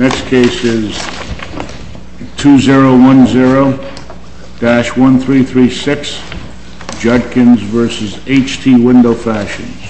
Next case is 2010-1336 Judkins v. H.T. Wendell Fashions.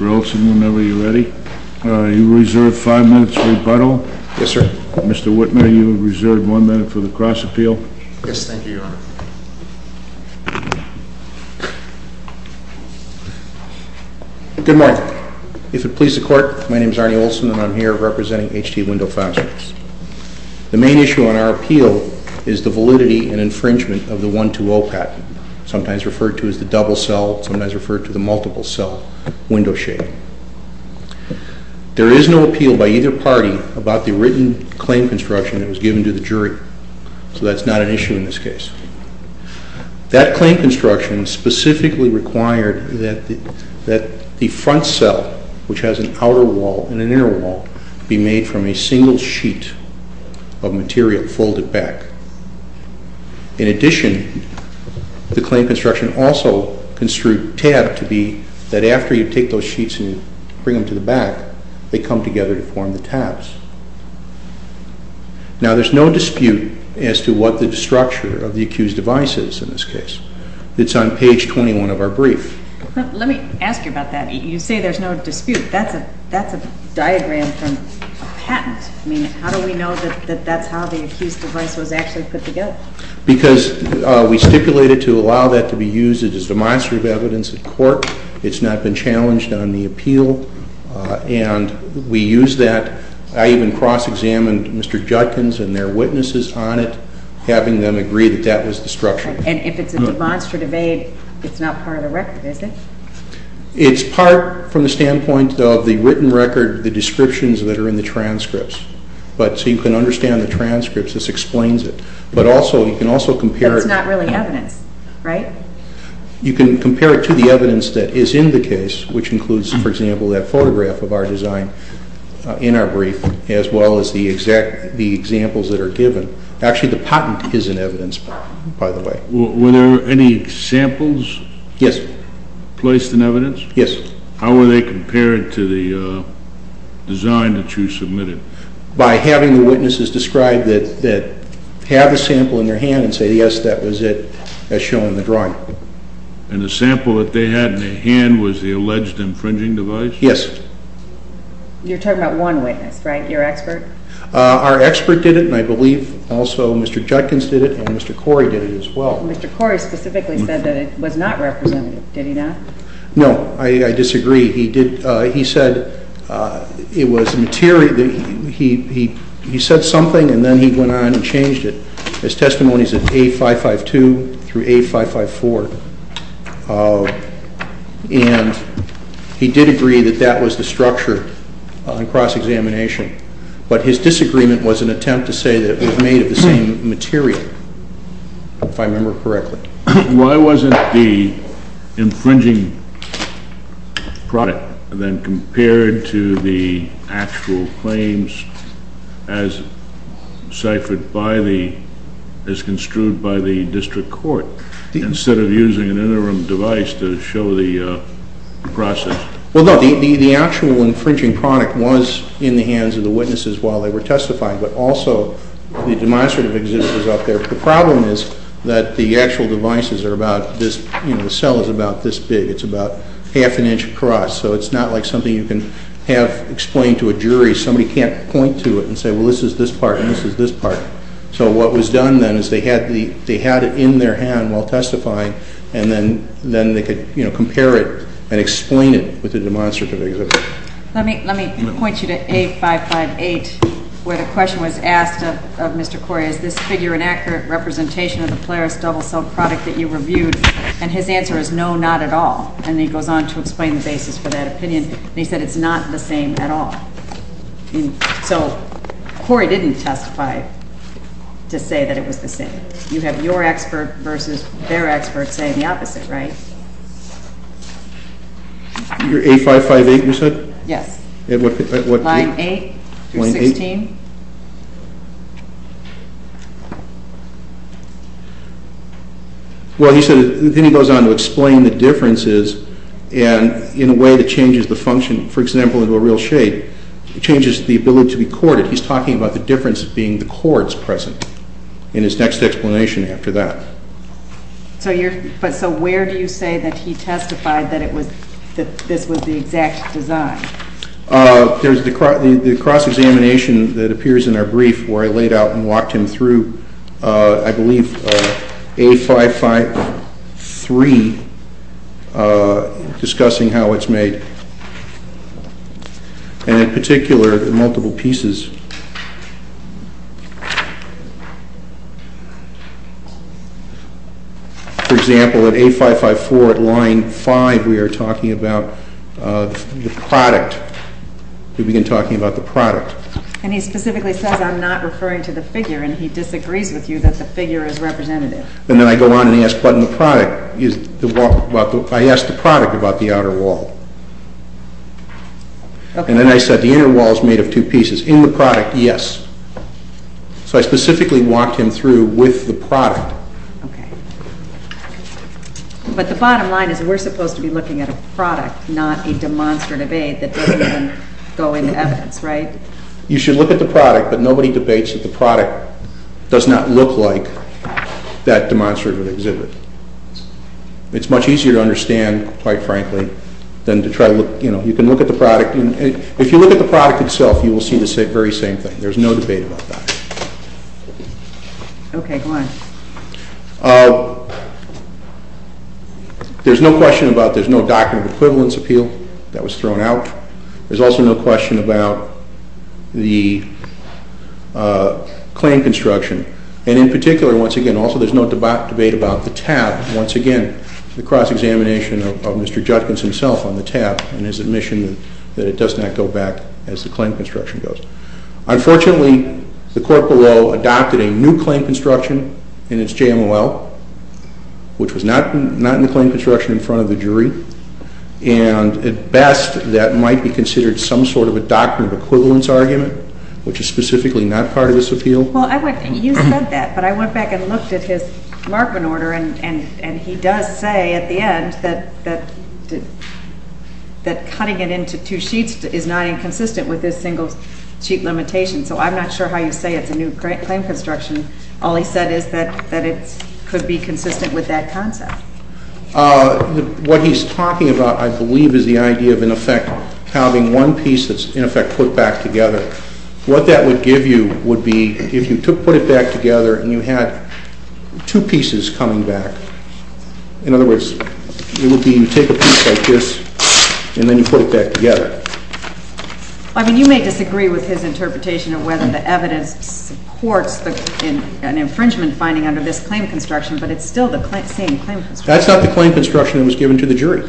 Mr. Wilson, whenever you're ready. Good morning. If it pleases the court, my name is Arnie Wilson, and I'm here representing H.T. Wendell Fashions. The main issue on our appeal is the validity and infringement of the 120 patent, sometimes referred to as the double cell, sometimes referred to as the multiple cell window shading. There is no appeal by either party about the written claim construction that was given to the jury, so that's not an issue in this case. That claim construction specifically required that the front cell, which has an outer wall and an inner wall, be made from a single sheet of material folded back. In addition, the claim construction also construed tab to be that after you take those sheets and bring them to the back, they come together to form the tabs. Now, there's no dispute as to what the structure of the accused device is in this case. It's on page 21 of our brief. Let me ask you about that. You say there's no dispute. That's a diagram from a patent. I mean, how do we know that that's how the accused device was actually put together? Because we stipulated to allow that to be used as demonstrative evidence in court. It's not been challenged on the appeal, and we use that. I even cross-examined Mr. Judkins and their witnesses on it, having them agree that that was the structure. And if it's a demonstrative aid, it's not part of the record, is it? It's part from the standpoint of the written record, the descriptions that are in the transcripts. So you can understand the transcripts. This explains it. But also, you can also compare it. That's not really evidence, right? You can compare it to the evidence that is in the case, which includes, for example, that photograph of our design in our brief, as well as the examples that are given. Actually, the patent is in evidence, by the way. Were there any examples? Yes. Placed in evidence? Yes. How were they compared to the design that you submitted? By having the witnesses describe that they had the sample in their hand and say, yes, that was it, as shown in the drawing. And the sample that they had in their hand was the alleged infringing device? Yes. You're talking about one witness, right? Your expert? Our expert did it, and I believe also Mr. Judkins did it, and Mr. Corey did it as well. Mr. Corey specifically said that it was not representative. Did he not? No. I disagree. He said it was material. He said something, and then he went on and changed it. His testimony is in A552 through A554. And he did agree that that was the structure on cross-examination. But his disagreement was an attempt to say that it was made of the same material, if I remember correctly. Why wasn't the infringing product then compared to the actual claims as ciphered by the, as construed by the district court, instead of using an interim device to show the process? Well, no, the actual infringing product was in the hands of the witnesses while they were testifying, but also the demonstrative exhibit was up there. The problem is that the actual devices are about this, you know, the cell is about this big. It's about half an inch across, so it's not like something you can have explained to a jury. Somebody can't point to it and say, well, this is this part and this is this part. So what was done then is they had it in their hand while testifying, and then they could, you know, compare it and explain it with the demonstrative exhibit. Let me point you to A558 where the question was asked of Mr. Corey, is this figure an accurate representation of the Plaris double-cell product that you reviewed? And his answer is no, not at all. And he goes on to explain the basis for that opinion, and he said it's not the same at all. So Corey didn't testify to say that it was the same. You have your expert versus their expert saying the opposite, right? Your A558, you said? Yes. At what point? Line 8 through 16. Well, he said, then he goes on to explain the differences, and in a way that changes the function, for example, into a real shape, it changes the ability to be corded. He's talking about the difference being the cords present in his next explanation after that. So where do you say that he testified that this was the exact design? There's the cross-examination that appears in our brief where I laid out and walked him through, I believe, A553, discussing how it's made, and in particular, the multiple pieces. For example, at A554 at line 5, we are talking about the product. We begin talking about the product. And he specifically says, I'm not referring to the figure, and he disagrees with you that the figure is representative. And then I go on and ask, but in the product, I ask the product about the outer wall. And then I said the inner wall is made of two pieces. In the product, yes. So I specifically walked him through with the product. But the bottom line is we're supposed to be looking at a product, not a demonstrative aid that doesn't even go into evidence, right? You should look at the product, but nobody debates that the product does not look like that demonstrative exhibit. It's much easier to understand, quite frankly, than to try to look. You can look at the product. If you look at the product itself, you will see the very same thing. There's no debate about that. Okay, go on. There's no question about there's no document of equivalence appeal that was thrown out. There's also no question about the claim construction. And in particular, once again, also there's no debate about the tab. Once again, the cross-examination of Mr. Judkins himself on the tab and his admission that it does not go back as the claim construction goes. Unfortunately, the court below adopted a new claim construction in its JMOL, which was not in the claim construction in front of the jury. And at best, that might be considered some sort of a document of equivalence argument, which is specifically not part of this appeal. Well, you said that, but I went back and looked at his Markman order, and he does say at the end that cutting it into two sheets is not inconsistent with this single-sheet limitation. So I'm not sure how you say it's a new claim construction. All he said is that it could be consistent with that concept. What he's talking about, I believe, is the idea of, in effect, having one piece that's, in effect, put back together. What that would give you would be if you put it back together and you had two pieces coming back. In other words, it would be you take a piece like this, and then you put it back together. I mean, you may disagree with his interpretation of whether the evidence supports an infringement finding under this claim construction, but it's still the same claim construction. That's not the claim construction that was given to the jury.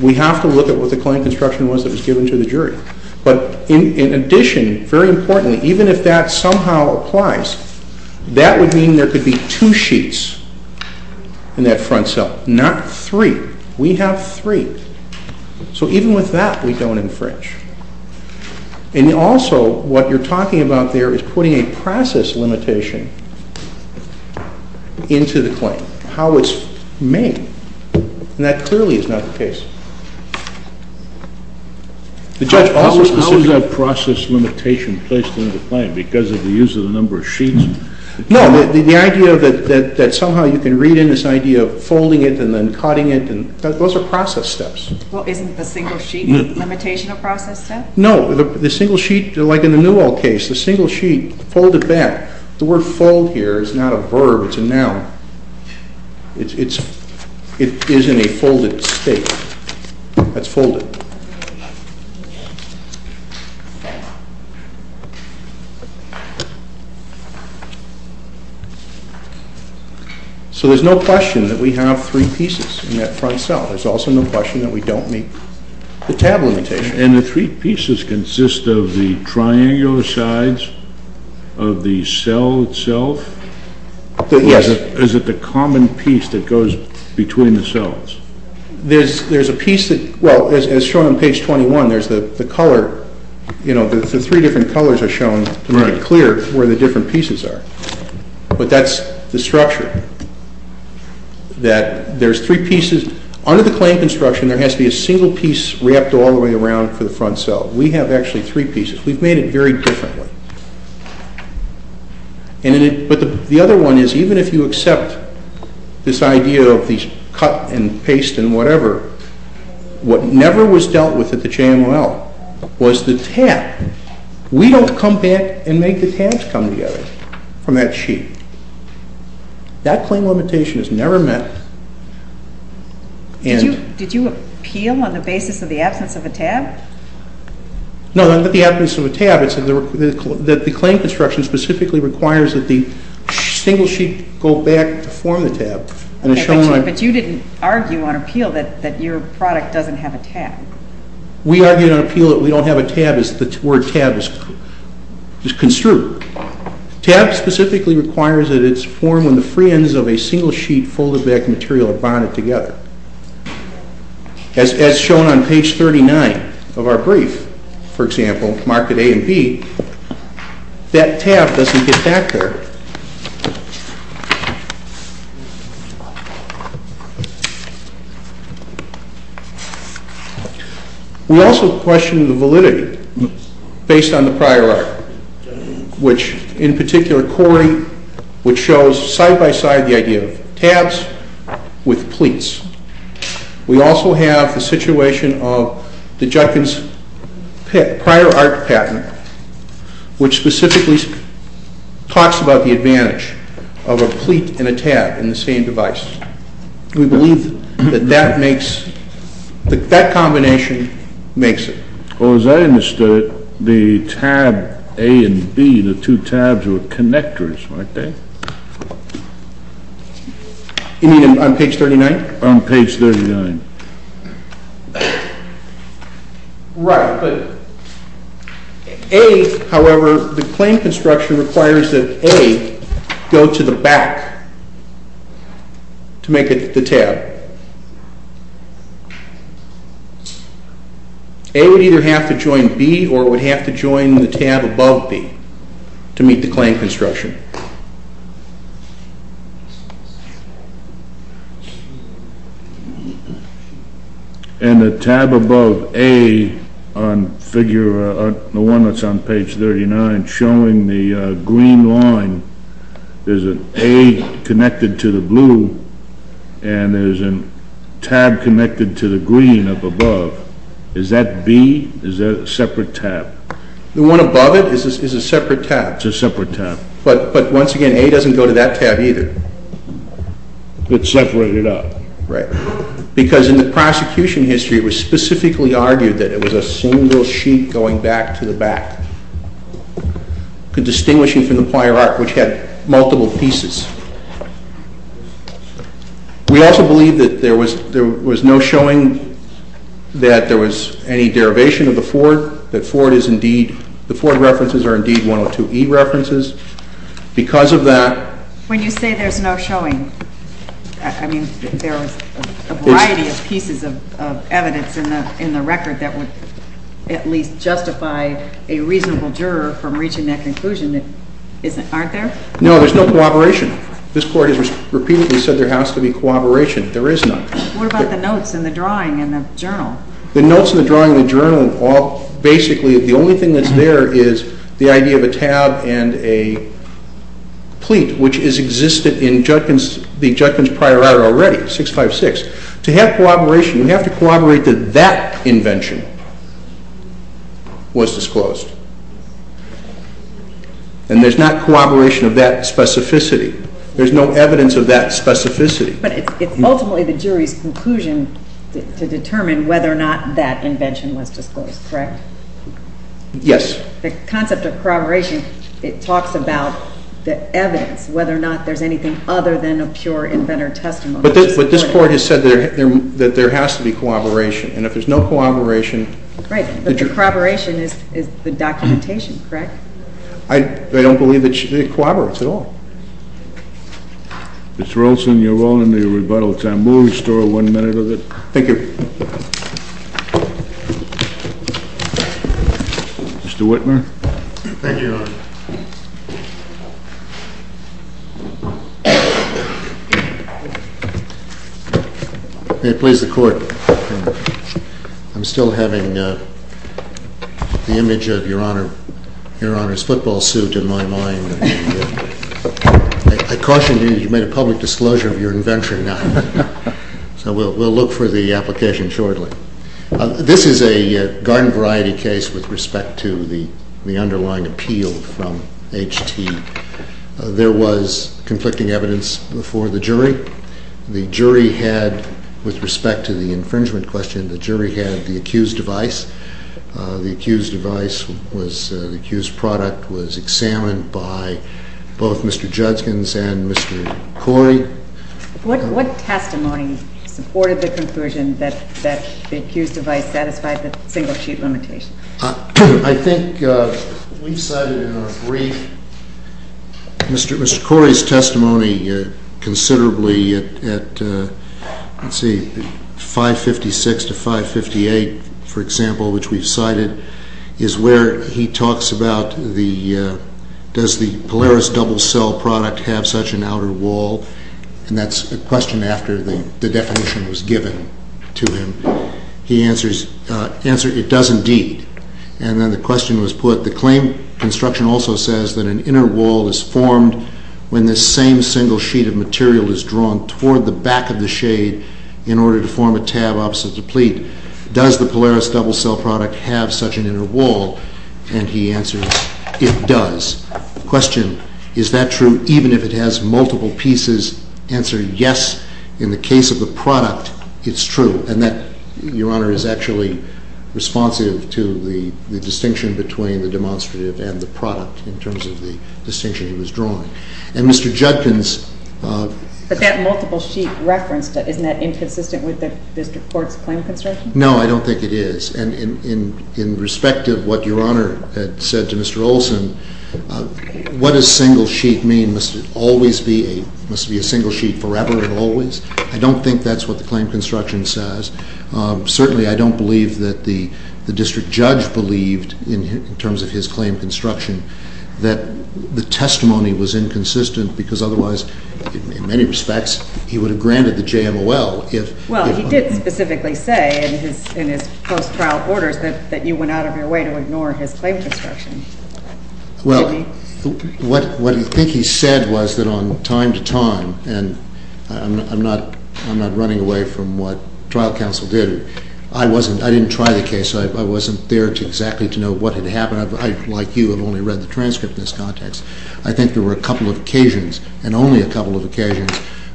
We have to look at what the claim construction was that was given to the jury. But in addition, very importantly, even if that somehow applies, that would mean there could be two sheets in that front cell, not three. We have three. So even with that, we don't infringe. And also, what you're talking about there is putting a process limitation into the claim. How it's made. And that clearly is not the case. The judge always... How is that process limitation placed into the claim? Because of the use of the number of sheets? No. The idea that somehow you can read in this idea of folding it and then cutting it, those are process steps. Well, isn't the single sheet a process step? No. The single sheet, like in the Newell case, the single sheet folded back. The word fold here is not a verb. It's a noun. It is in a folded state. That's folded. So there's no question that we have three pieces in that front cell. There's also no question that we don't meet the tab limitation. And the three pieces consist of the triangular sides of the cell itself? Yes. Or is it the common piece that goes between the cells? There's a piece that... Well, as shown on page 21, there's the color. You know, the three different colors are shown to make it clear where the different pieces are. But that's the structure. That there's three pieces. Under the claim construction, there has to be a single piece wrapped all the way around for the front cell. We have actually three pieces. We've made it very differently. But the other one is even if you accept this idea of these cut and paste and whatever, what never was dealt with at the JML was the tab. We don't come back and make the tabs come together from that sheet. That claim limitation is never met. Did you appeal on the basis of the absence of a tab? No, not the absence of a tab. It's that the claim construction specifically requires that the single sheet go back to form the tab. But you didn't argue on appeal that your product doesn't have a tab. We argued on appeal that we don't have a tab as the word tab is construed. Tab specifically requires that it's formed when the free ends of a single sheet folded back material are bonded together. As shown on page 39 of our brief, for example, marked with A and B, that tab doesn't get back there. We also questioned the validity based on the prior art, which in particular Cori, which shows side-by-side the idea of tabs with pleats. We also have the situation of the Judkins prior art patent, which specifically talks about the advantage of a pleat and a tab in the same device. We believe that that makes, that combination makes it. Well, as I understood it, the tab A and B, the two tabs were connectors, weren't they? You mean on page 39? On page 39. Right, but A, however, the claim construction requires that A go to the back to make it the tab. Right. A would either have to join B or would have to join the tab above B to meet the claim construction. And the tab above A on figure, the one that's on page 39 showing the green line, there's an A connected to the blue and there's a tab connected to the green up above. Is that B? Is that a separate tab? The one above it is a separate tab. It's a separate tab. But once again, A doesn't go to that tab either. It's separated out. Right. Because in the prosecution history, it was specifically argued that it was a single sheet going back to the back, distinguishing from the prior art, which had multiple pieces. We also believe that there was no showing that there was any derivation of the Ford, that the Ford references are indeed 102E references. Because of that... When you say there's no showing, I mean, there was a variety of pieces of evidence in the record that would at least justify a reasonable juror from reaching that conclusion, aren't there? No, there's no corroboration. This Court has repeatedly said there has to be corroboration. There is none. What about the notes and the drawing in the journal? The notes and the drawing in the journal, basically the only thing that's there is the idea of a tab and a pleat, which is existed in the Judgment's prior art already, 656. To have corroboration, we have to corroborate that that invention was disclosed. And there's not corroboration of that specificity. There's no evidence of that specificity. But it's ultimately the jury's conclusion to determine whether or not that invention was disclosed, correct? Yes. The concept of corroboration, it talks about the evidence, whether or not there's anything other than a pure inventor testimony. But this Court has said that there has to be corroboration, and if there's no corroboration... Right, but the corroboration is the documentation, correct? I don't believe it corroborates at all. Mr. Olson, you're all in the rebuttal time. We'll restore one minute of it. Thank you. Mr. Whitmer. Thank you, Your Honor. May it please the Court. I'm still having the image of Your Honor's football suit in my mind. I caution you, you've made a public disclosure of your invention now. So we'll look for the application shortly. This is a garden variety case with respect to the underlying appeal from H.T. There was conflicting evidence before the jury. The jury had, with respect to the infringement question, the jury had the accused device. The accused device was, the accused product was examined by both Mr. Judkins and Mr. Corey. What testimony supported the conclusion that the accused device satisfied the single-sheet limitation? I think we've cited in our brief, Mr. Corey's testimony considerably at, let's see, 556 to 558, for example, which we've cited, is where he talks about the, does the Polaris double-cell product have such an outer wall? And that's a question after the definition was given to him. He answers, answer, it does indeed. And then the question was put, the claim construction also says that an inner wall is formed when the same single sheet of material is drawn toward the back of the shade in order to form a tab opposite the pleat. Does the Polaris double-cell product have such an inner wall? And he answers, it does. Question, is that true even if it has multiple pieces? Answer, yes, in the case of the product, it's true. And that, Your Honor, is actually responsive to the distinction between the demonstrative and the product in terms of the distinction he was drawing. And Mr. Judkins- But that multiple sheet reference, isn't that inconsistent with Mr. Ford's claim construction? No, I don't think it is. And in respect of what Your Honor had said to Mr. Olson, what does single sheet mean? Must it always be a, must it be a single sheet forever and always? I don't think that's what the claim construction says. Certainly, I don't believe that the district judge believed in terms of his claim construction that the testimony was inconsistent because otherwise, in many respects, he would have granted the JMOL if- Well, he did specifically say in his post-trial orders that you went out of your way to ignore his claim construction. Well, what I think he said was that on time to time, and I'm not running away from what trial counsel did, I wasn't, I didn't try the case. I wasn't there exactly to know what had happened. I, like you, have only read the transcript in this context. I think there were a couple of occasions, and only a couple of occasions,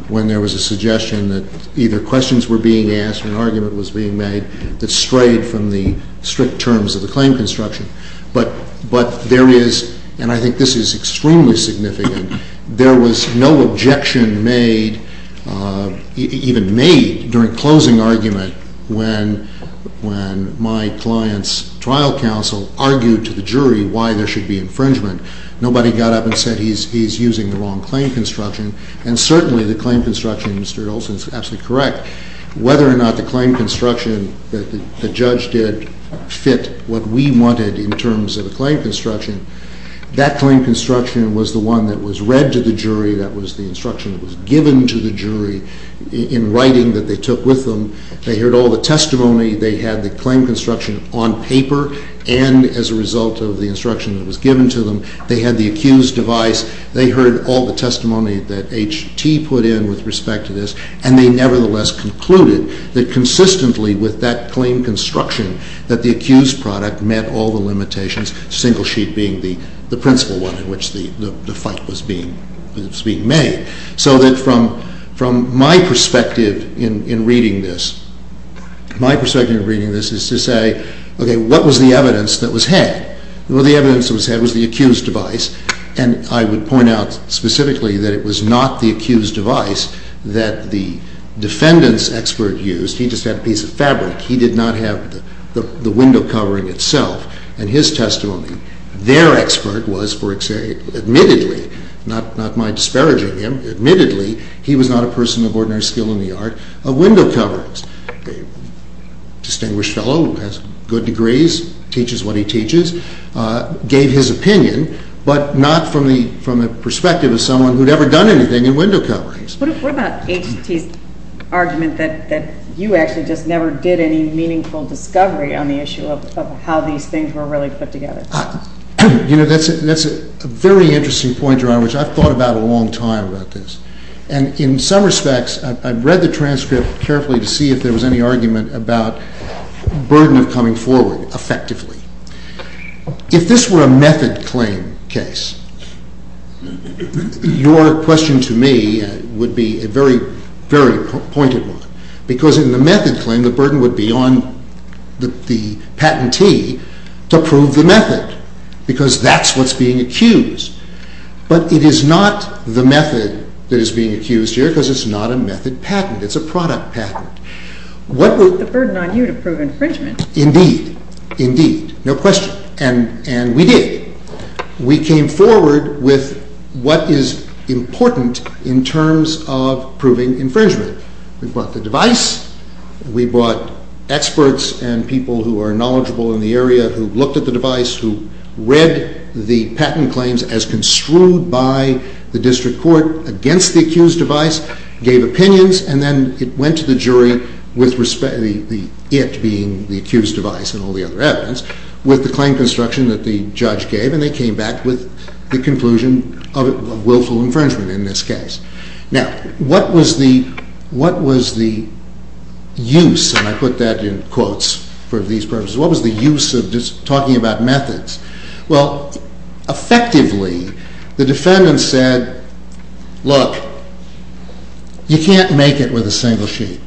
when there was a suggestion that either questions were being asked or an argument was being made that strayed from the strict terms of the claim construction. But there is, and I think this is extremely significant, there was no objection made, even made, during closing argument when my client's trial counsel argued to the jury why there should be infringement. Nobody got up and said he's using the wrong claim construction. And certainly, the claim construction, Mr. Olson, is absolutely correct. Whether or not the claim construction that the judge did fit what we wanted in terms of a claim construction, that claim construction was the one that was read to the jury, that was the instruction that was given to the jury in writing that they took with them. They heard all the testimony. They had the claim construction on paper and as a result of the instruction that was given to them. They had the accused device. They heard all the testimony that H.T. put in with respect to this, and they nevertheless concluded that consistently with that claim construction that the accused product met all the limitations, single sheet being the principle one in which the fight was being made. So that from my perspective in reading this, my perspective in reading this is to say, okay, what was the evidence that was had? Well, the evidence that was had was the accused device, and I would point out specifically that it was not the accused device that the defendant's expert used. He just had a piece of fabric. He did not have the window covering itself. In his testimony, their expert was, admittedly, not my disparaging him, admittedly he was not a person of ordinary skill in the art of window coverings. A distinguished fellow who has good degrees, teaches what he teaches, gave his opinion, but not from the perspective of someone who had ever done anything in window coverings. What about H.T.'s argument that you actually just never did any meaningful discovery on the issue of how these things were really put together? You know, that's a very interesting point, Your Honor, which I've thought about a long time about this, and in some respects I've read the transcript carefully to see if there was any argument about burden of coming forward effectively. If this were a method claim case, your question to me would be a very, very pointed one, because in the method claim the burden would be on the patentee to prove the method, because that's what's being accused. But it is not the method that is being accused here, because it's not a method patent. It's a product patent. What was the burden on you to prove infringement? Indeed. Indeed. No question. And we did. We came forward with what is important in terms of proving infringement. We brought the device. We brought experts and people who are knowledgeable in the area who looked at the device, who read the patent claims as construed by the district court against the accused device, gave opinions, and then it went to the jury, the it being the accused device and all the other evidence, with the claim construction that the judge gave, and they came back with the conclusion of willful infringement in this case. Now, what was the use, and I put that in quotes for these purposes, what was the use of just talking about methods? Well, effectively, the defendant said, look, you can't make it with a single sheet.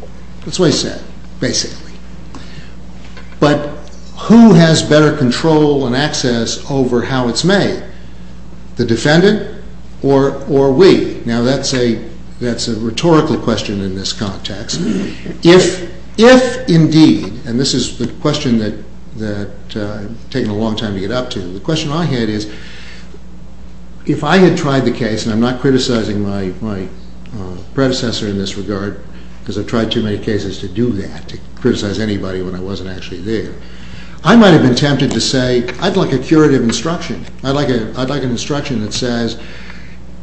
That's what he said, basically. But who has better control and access over how it's made? The defendant or we? Now, that's a rhetorical question in this context. If indeed, and this is the question that I've taken a long time to get up to, the question I had is, if I had tried the case, and I'm not criticizing my predecessor in this regard, because I've tried too many cases to do that, to criticize anybody when I wasn't actually there, I might have been tempted to say, I'd like a curative instruction. I'd like an instruction that says,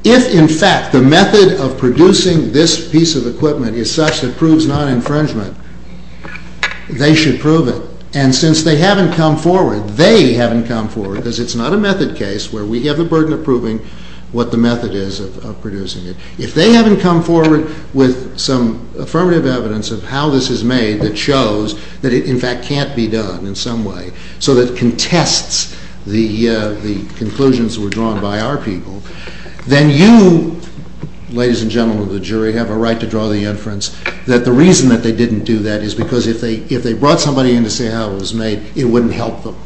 if in fact the method of producing this piece of equipment is such that proves non-infringement, they should prove it. And since they haven't come forward, they haven't come forward, because it's not a method case where we have the burden of proving what the method is of producing it. If they haven't come forward with some affirmative evidence of how this is made that shows that it in fact can't be done in some way, so that contests the conclusions that were drawn by our people, then you, ladies and gentlemen of the jury, have a right to draw the inference that the reason that they didn't do that is because if they brought somebody in to say how it was made, it wouldn't help them.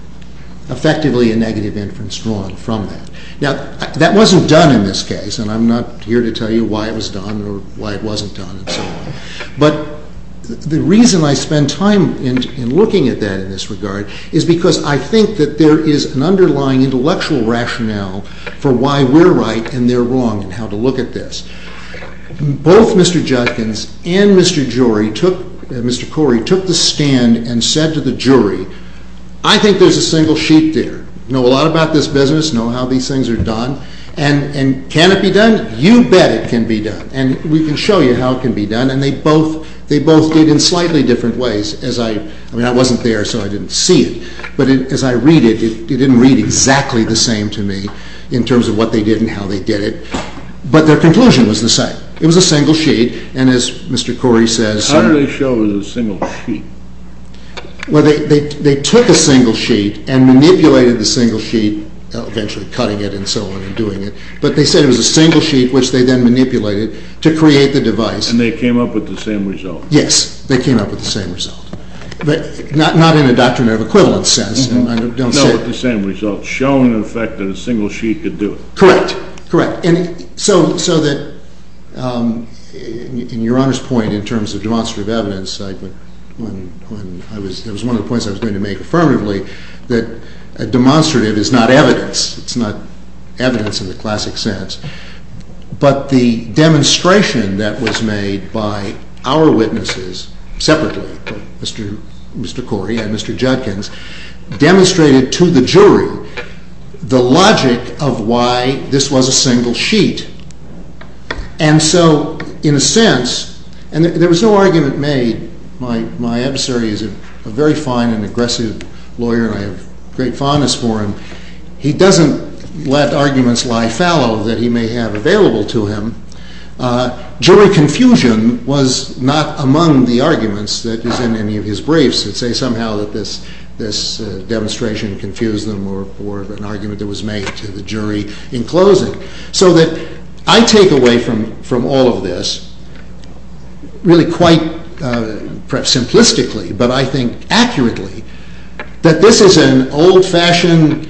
Effectively, a negative inference drawn from that. Now, that wasn't done in this case, and I'm not here to tell you why it was done or why it wasn't done and so on. But the reason I spend time in looking at that in this regard is because I think that there is an underlying intellectual rationale for why we're right and they're wrong and how to look at this. Both Mr. Judkins and Mr. Corey took the stand and said to the jury, I think there's a single sheet there. Know a lot about this business, know how these things are done, and can it be done? You bet it can be done, and we can show you how it can be done, and they both did in slightly different ways. I mean, I wasn't there, so I didn't see it, but as I read it, it didn't read exactly the same to me in terms of what they did and how they did it, but their conclusion was the same. It was a single sheet, and as Mr. Corey says... How do they show it was a single sheet? Well, they took a single sheet and manipulated the single sheet, eventually cutting it and so on and doing it, but they said it was a single sheet, which they then manipulated to create the device. And they came up with the same result. Yes, they came up with the same result, but not in a doctrinal equivalent sense. No, but the same result, showing the fact that a single sheet could do it. Correct, correct. And so that, in Your Honor's point, in terms of demonstrative evidence, that was one of the points I was going to make affirmatively, that demonstrative is not evidence. It's not evidence in the classic sense. But the demonstration that was made by our witnesses, separately, Mr. Corey and Mr. Judkins, demonstrated to the jury the logic of why this was a single sheet. And so, in a sense, and there was no argument made, my adversary is a very fine and aggressive lawyer and I have great fondness for him. He doesn't let arguments lie fallow that he may have available to him. Jury confusion was not among the arguments that is in any of his briefs. Let's say somehow that this demonstration confused them or an argument that was made to the jury in closing. So that I take away from all of this really quite, perhaps simplistically, but I think accurately, that this is an old-fashioned,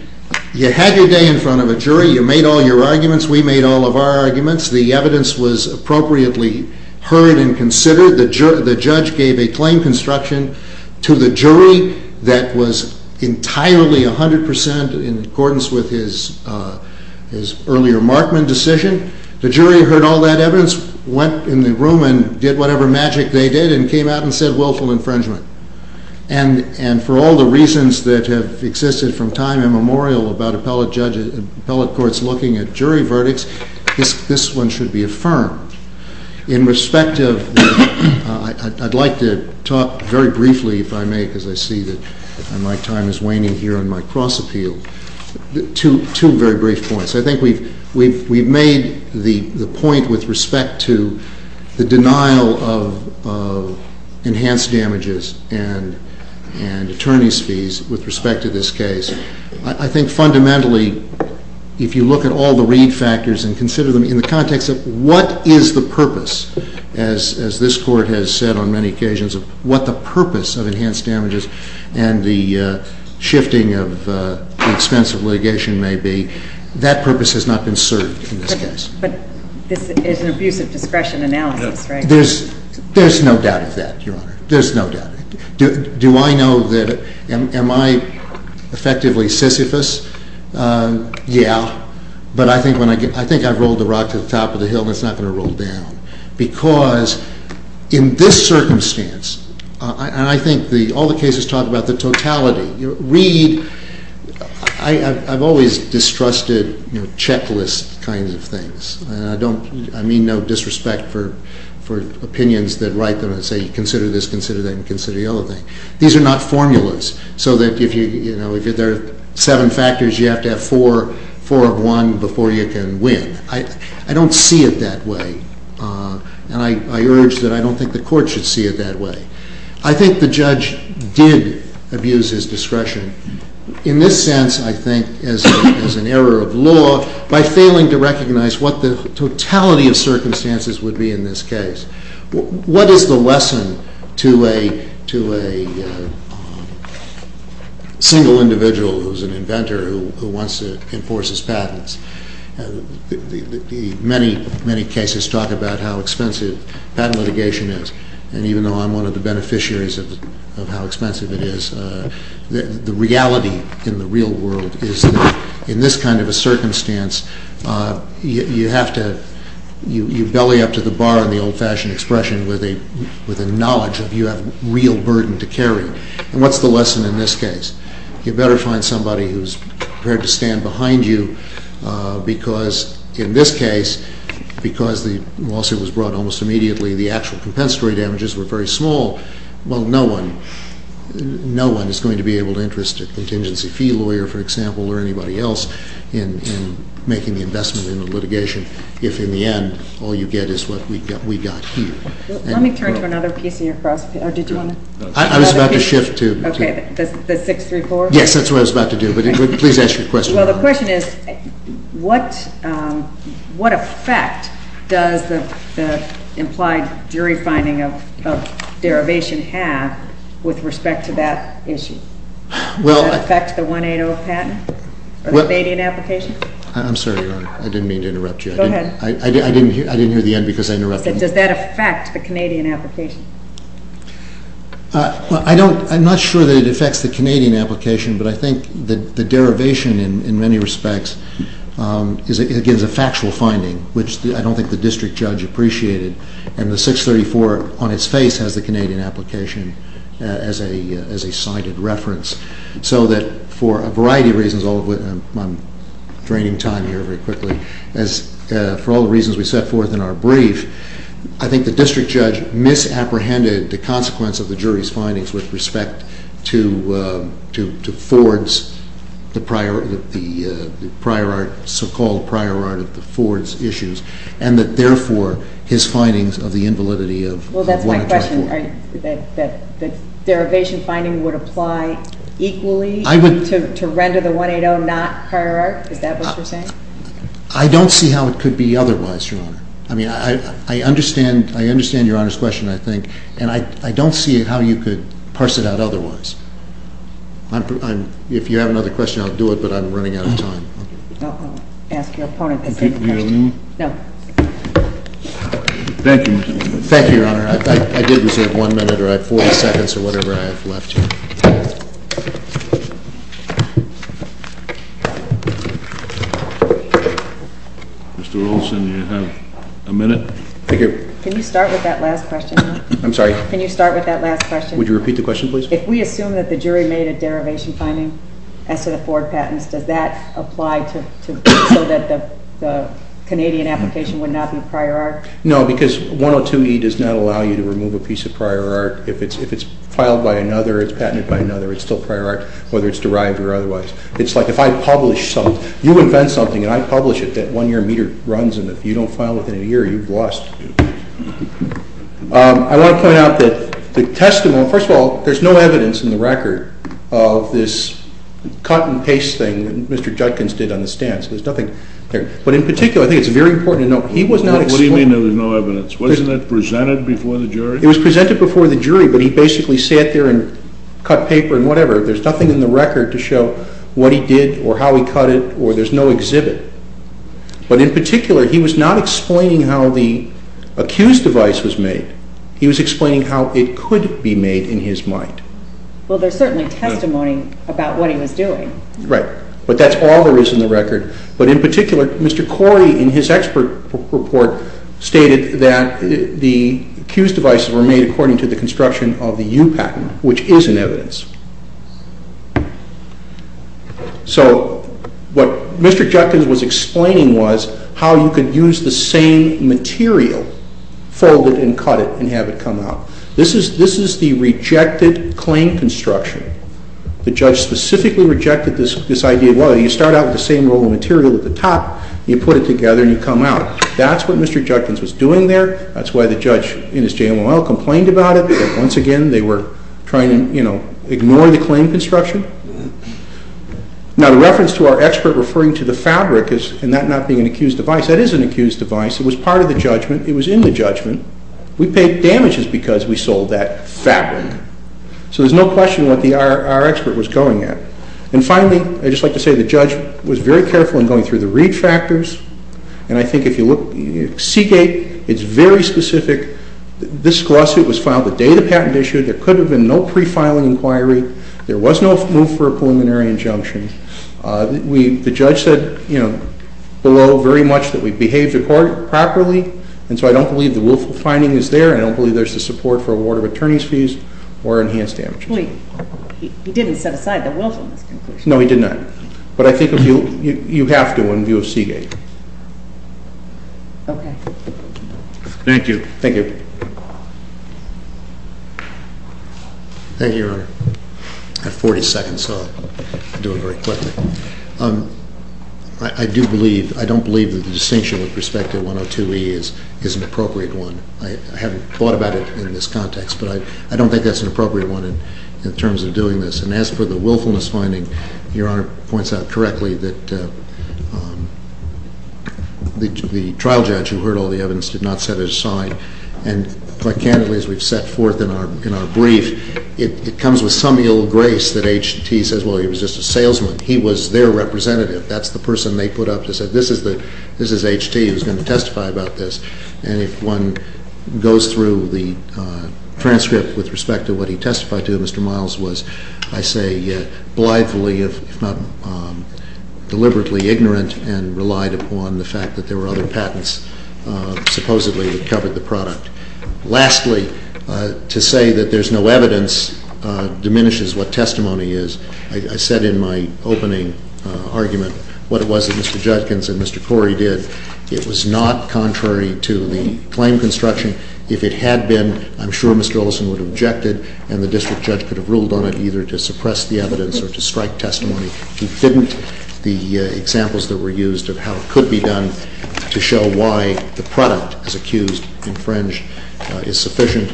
you had your day in front of a jury, you made all your arguments, we made all of our arguments, the evidence was appropriately heard and considered, the judge gave a claim construction to the jury that was entirely 100 percent in accordance with his earlier Markman decision. The jury heard all that evidence, went in the room and did whatever magic they did and came out and said willful infringement. And for all the reasons that have existed from time immemorial about appellate courts looking at jury verdicts, this one should be affirmed. In respect of, I'd like to talk very briefly, if I may, because I see that my time is waning here on my cross-appeal, two very brief points. I think we've made the point with respect to the denial of enhanced damages and attorney's fees with respect to this case. I think fundamentally, if you look at all the read factors and consider them in the context of what is the purpose, as this Court has said on many occasions, what the purpose of enhanced damages and the shifting of the expense of litigation may be, that purpose has not been served in this case. But this is an abuse of discretion analysis, right? There's no doubt of that, Your Honor. There's no doubt. Do I know that, am I effectively Sisyphus? Yeah. But I think I've rolled the rock to the top of the hill and it's not going to roll down. Because in this circumstance, and I think all the cases talk about the totality. Read, I've always distrusted checklist kinds of things. I mean no disrespect for opinions that write that say consider this, consider that, and consider the other thing. These are not formulas. So that if there are seven factors, you have to have four of one before you can win. I don't see it that way. And I urge that I don't think the Court should see it that way. I think the judge did abuse his discretion. In this sense, I think, as an error of law, by failing to recognize what the totality of circumstances would be in this case. What is the lesson to a single individual who is an inventor who wants to enforce his patents? Many, many cases talk about how expensive patent litigation is. And even though I'm one of the beneficiaries of how expensive it is, the reality in the real world is that in this kind of a circumstance, you have to, you belly up to the bar in the old-fashioned expression with a knowledge that you have a real burden to carry. And what's the lesson in this case? You better find somebody who's prepared to stand behind you because in this case, because the lawsuit was brought almost immediately, the actual compensatory damages were very small. Well, no one is going to be able to interest a contingency fee lawyer, for example, or anybody else in making the investment in the litigation if in the end all you get is what we got here. Let me turn to another piece of your cross-page. I was about to shift to... Okay, the 634? Yes, that's what I was about to do, but please ask your question. Well, the question is what effect does the implied jury finding of derivation have with respect to that issue? Does it affect the 180 patent or the Canadian application? I'm sorry, Your Honor. I didn't mean to interrupt you. Go ahead. I didn't hear the end because I interrupted you. Does that affect the Canadian application? I'm not sure that it affects the Canadian application, but I think the derivation in many respects is a factual finding, which I don't think the district judge appreciated, and the 634 on its face has the Canadian application as a cited reference so that for a variety of reasons, I'm draining time here very quickly, for all the reasons we set forth in our brief, I think the district judge misapprehended the consequence of the jury's findings with respect to Ford's so-called prior art of the Ford's issues and that therefore his findings of the invalidity of 184. Well, that's my question. The derivation finding would apply equally to render the 180 not prior art? Is that what you're saying? I don't see how it could be otherwise, Your Honor. I mean, I understand Your Honor's question, I think, and I don't see how you could parse it out otherwise. If you have another question, I'll do it, but I'm running out of time. I'll ask your opponent the same question. Thank you, Your Honor. Thank you, Your Honor. I did reserve one minute or I have 40 seconds or whatever I have left here. Mr. Olson, you have a minute? Can you start with that last question? I'm sorry? Can you start with that last question? Would you repeat the question, please? If we assume that the jury made a derivation finding as to the Ford patents, does that apply so that the Canadian application would not be prior art? No, because 102E does not allow you to remove a piece of prior art. If it's filed by another, it's patented by another, it's still prior art, whether it's derived or otherwise. It's like if I publish something, you invent something and I publish it, and if you don't file within a year, you've lost. I want to point out that the testimony, first of all, there's no evidence in the record of this cut and paste thing that Mr. Judkins did on the stands. There's nothing there. But in particular, I think it's very important to note he was not exposed. What do you mean there was no evidence? Wasn't it presented before the jury? It was presented before the jury, but he basically sat there and cut paper and whatever. There's nothing in the record to show what he did or how he cut it or there's no exhibit. But in particular, he was not explaining how the accused device was made. He was explaining how it could be made in his mind. Well, there's certainly testimony about what he was doing. Right. But that's all there is in the record. But in particular, Mr. Corey in his expert report stated that the accused devices were made according to the construction of the U patent, which is in evidence. So what Mr. Judkins was explaining was how you could use the same material, fold it and cut it and have it come out. This is the rejected claim construction. The judge specifically rejected this idea. Well, you start out with the same roll of material at the top. You put it together and you come out. That's what Mr. Judkins was doing there. That's why the judge in his JMLL complained about it. Once again, they were trying to ignore the claim construction. Now, the reference to our expert referring to the fabric and that not being an accused device, that is an accused device. It was part of the judgment. It was in the judgment. We paid damages because we sold that fabric. So there's no question what our expert was going at. And finally, I'd just like to say the judge was very careful in going through the read factors. And I think if you look at Seagate, it's very specific. This lawsuit was filed the day the patent issued. There could have been no pre-filing inquiry. There was no move for a preliminary injunction. The judge said below very much that we behaved the court properly. And so I don't believe the willful finding is there. I don't believe there's the support for award of attorney's fees or enhanced damages. Wait. He didn't set aside the willfulness conclusion. No, he did not. But I think you have to in view of Seagate. Okay. Thank you. Thank you. Thank you, Your Honor. I have 40 seconds, so I'll do it very quickly. I do believe, I don't believe that the distinction with respect to 102E is an appropriate one. I haven't thought about it in this context, but I don't think that's an appropriate one in terms of doing this. And as for the willfulness finding, Your Honor points out correctly that the trial judge who heard all the evidence did not set it aside, and quite candidly, as we've set forth in our brief, it comes with some ill grace that H.T. says, well, he was just a salesman. He was their representative. That's the person they put up to say, this is H.T. who's going to testify about this. And if one goes through the transcript with respect to what he testified to, Mr. Miles was, I say, blithely, if not deliberately, ignorant and relied upon the fact that there were other patents supposedly that covered the product. Lastly, to say that there's no evidence diminishes what testimony is. I said in my opening argument what it was that Mr. Judkins and Mr. Corey did. It was not contrary to the claim construction. If it had been, I'm sure Mr. Olson would have objected and the district judge could have ruled on it either to suppress the evidence or to strike testimony. He didn't. The examples that were used of how it could be done to show why the product is accused, infringed, is sufficient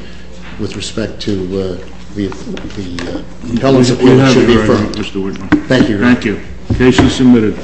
with respect to the pellets of evidence should be firm. Thank you, Your Honor. Thank you. The case is submitted.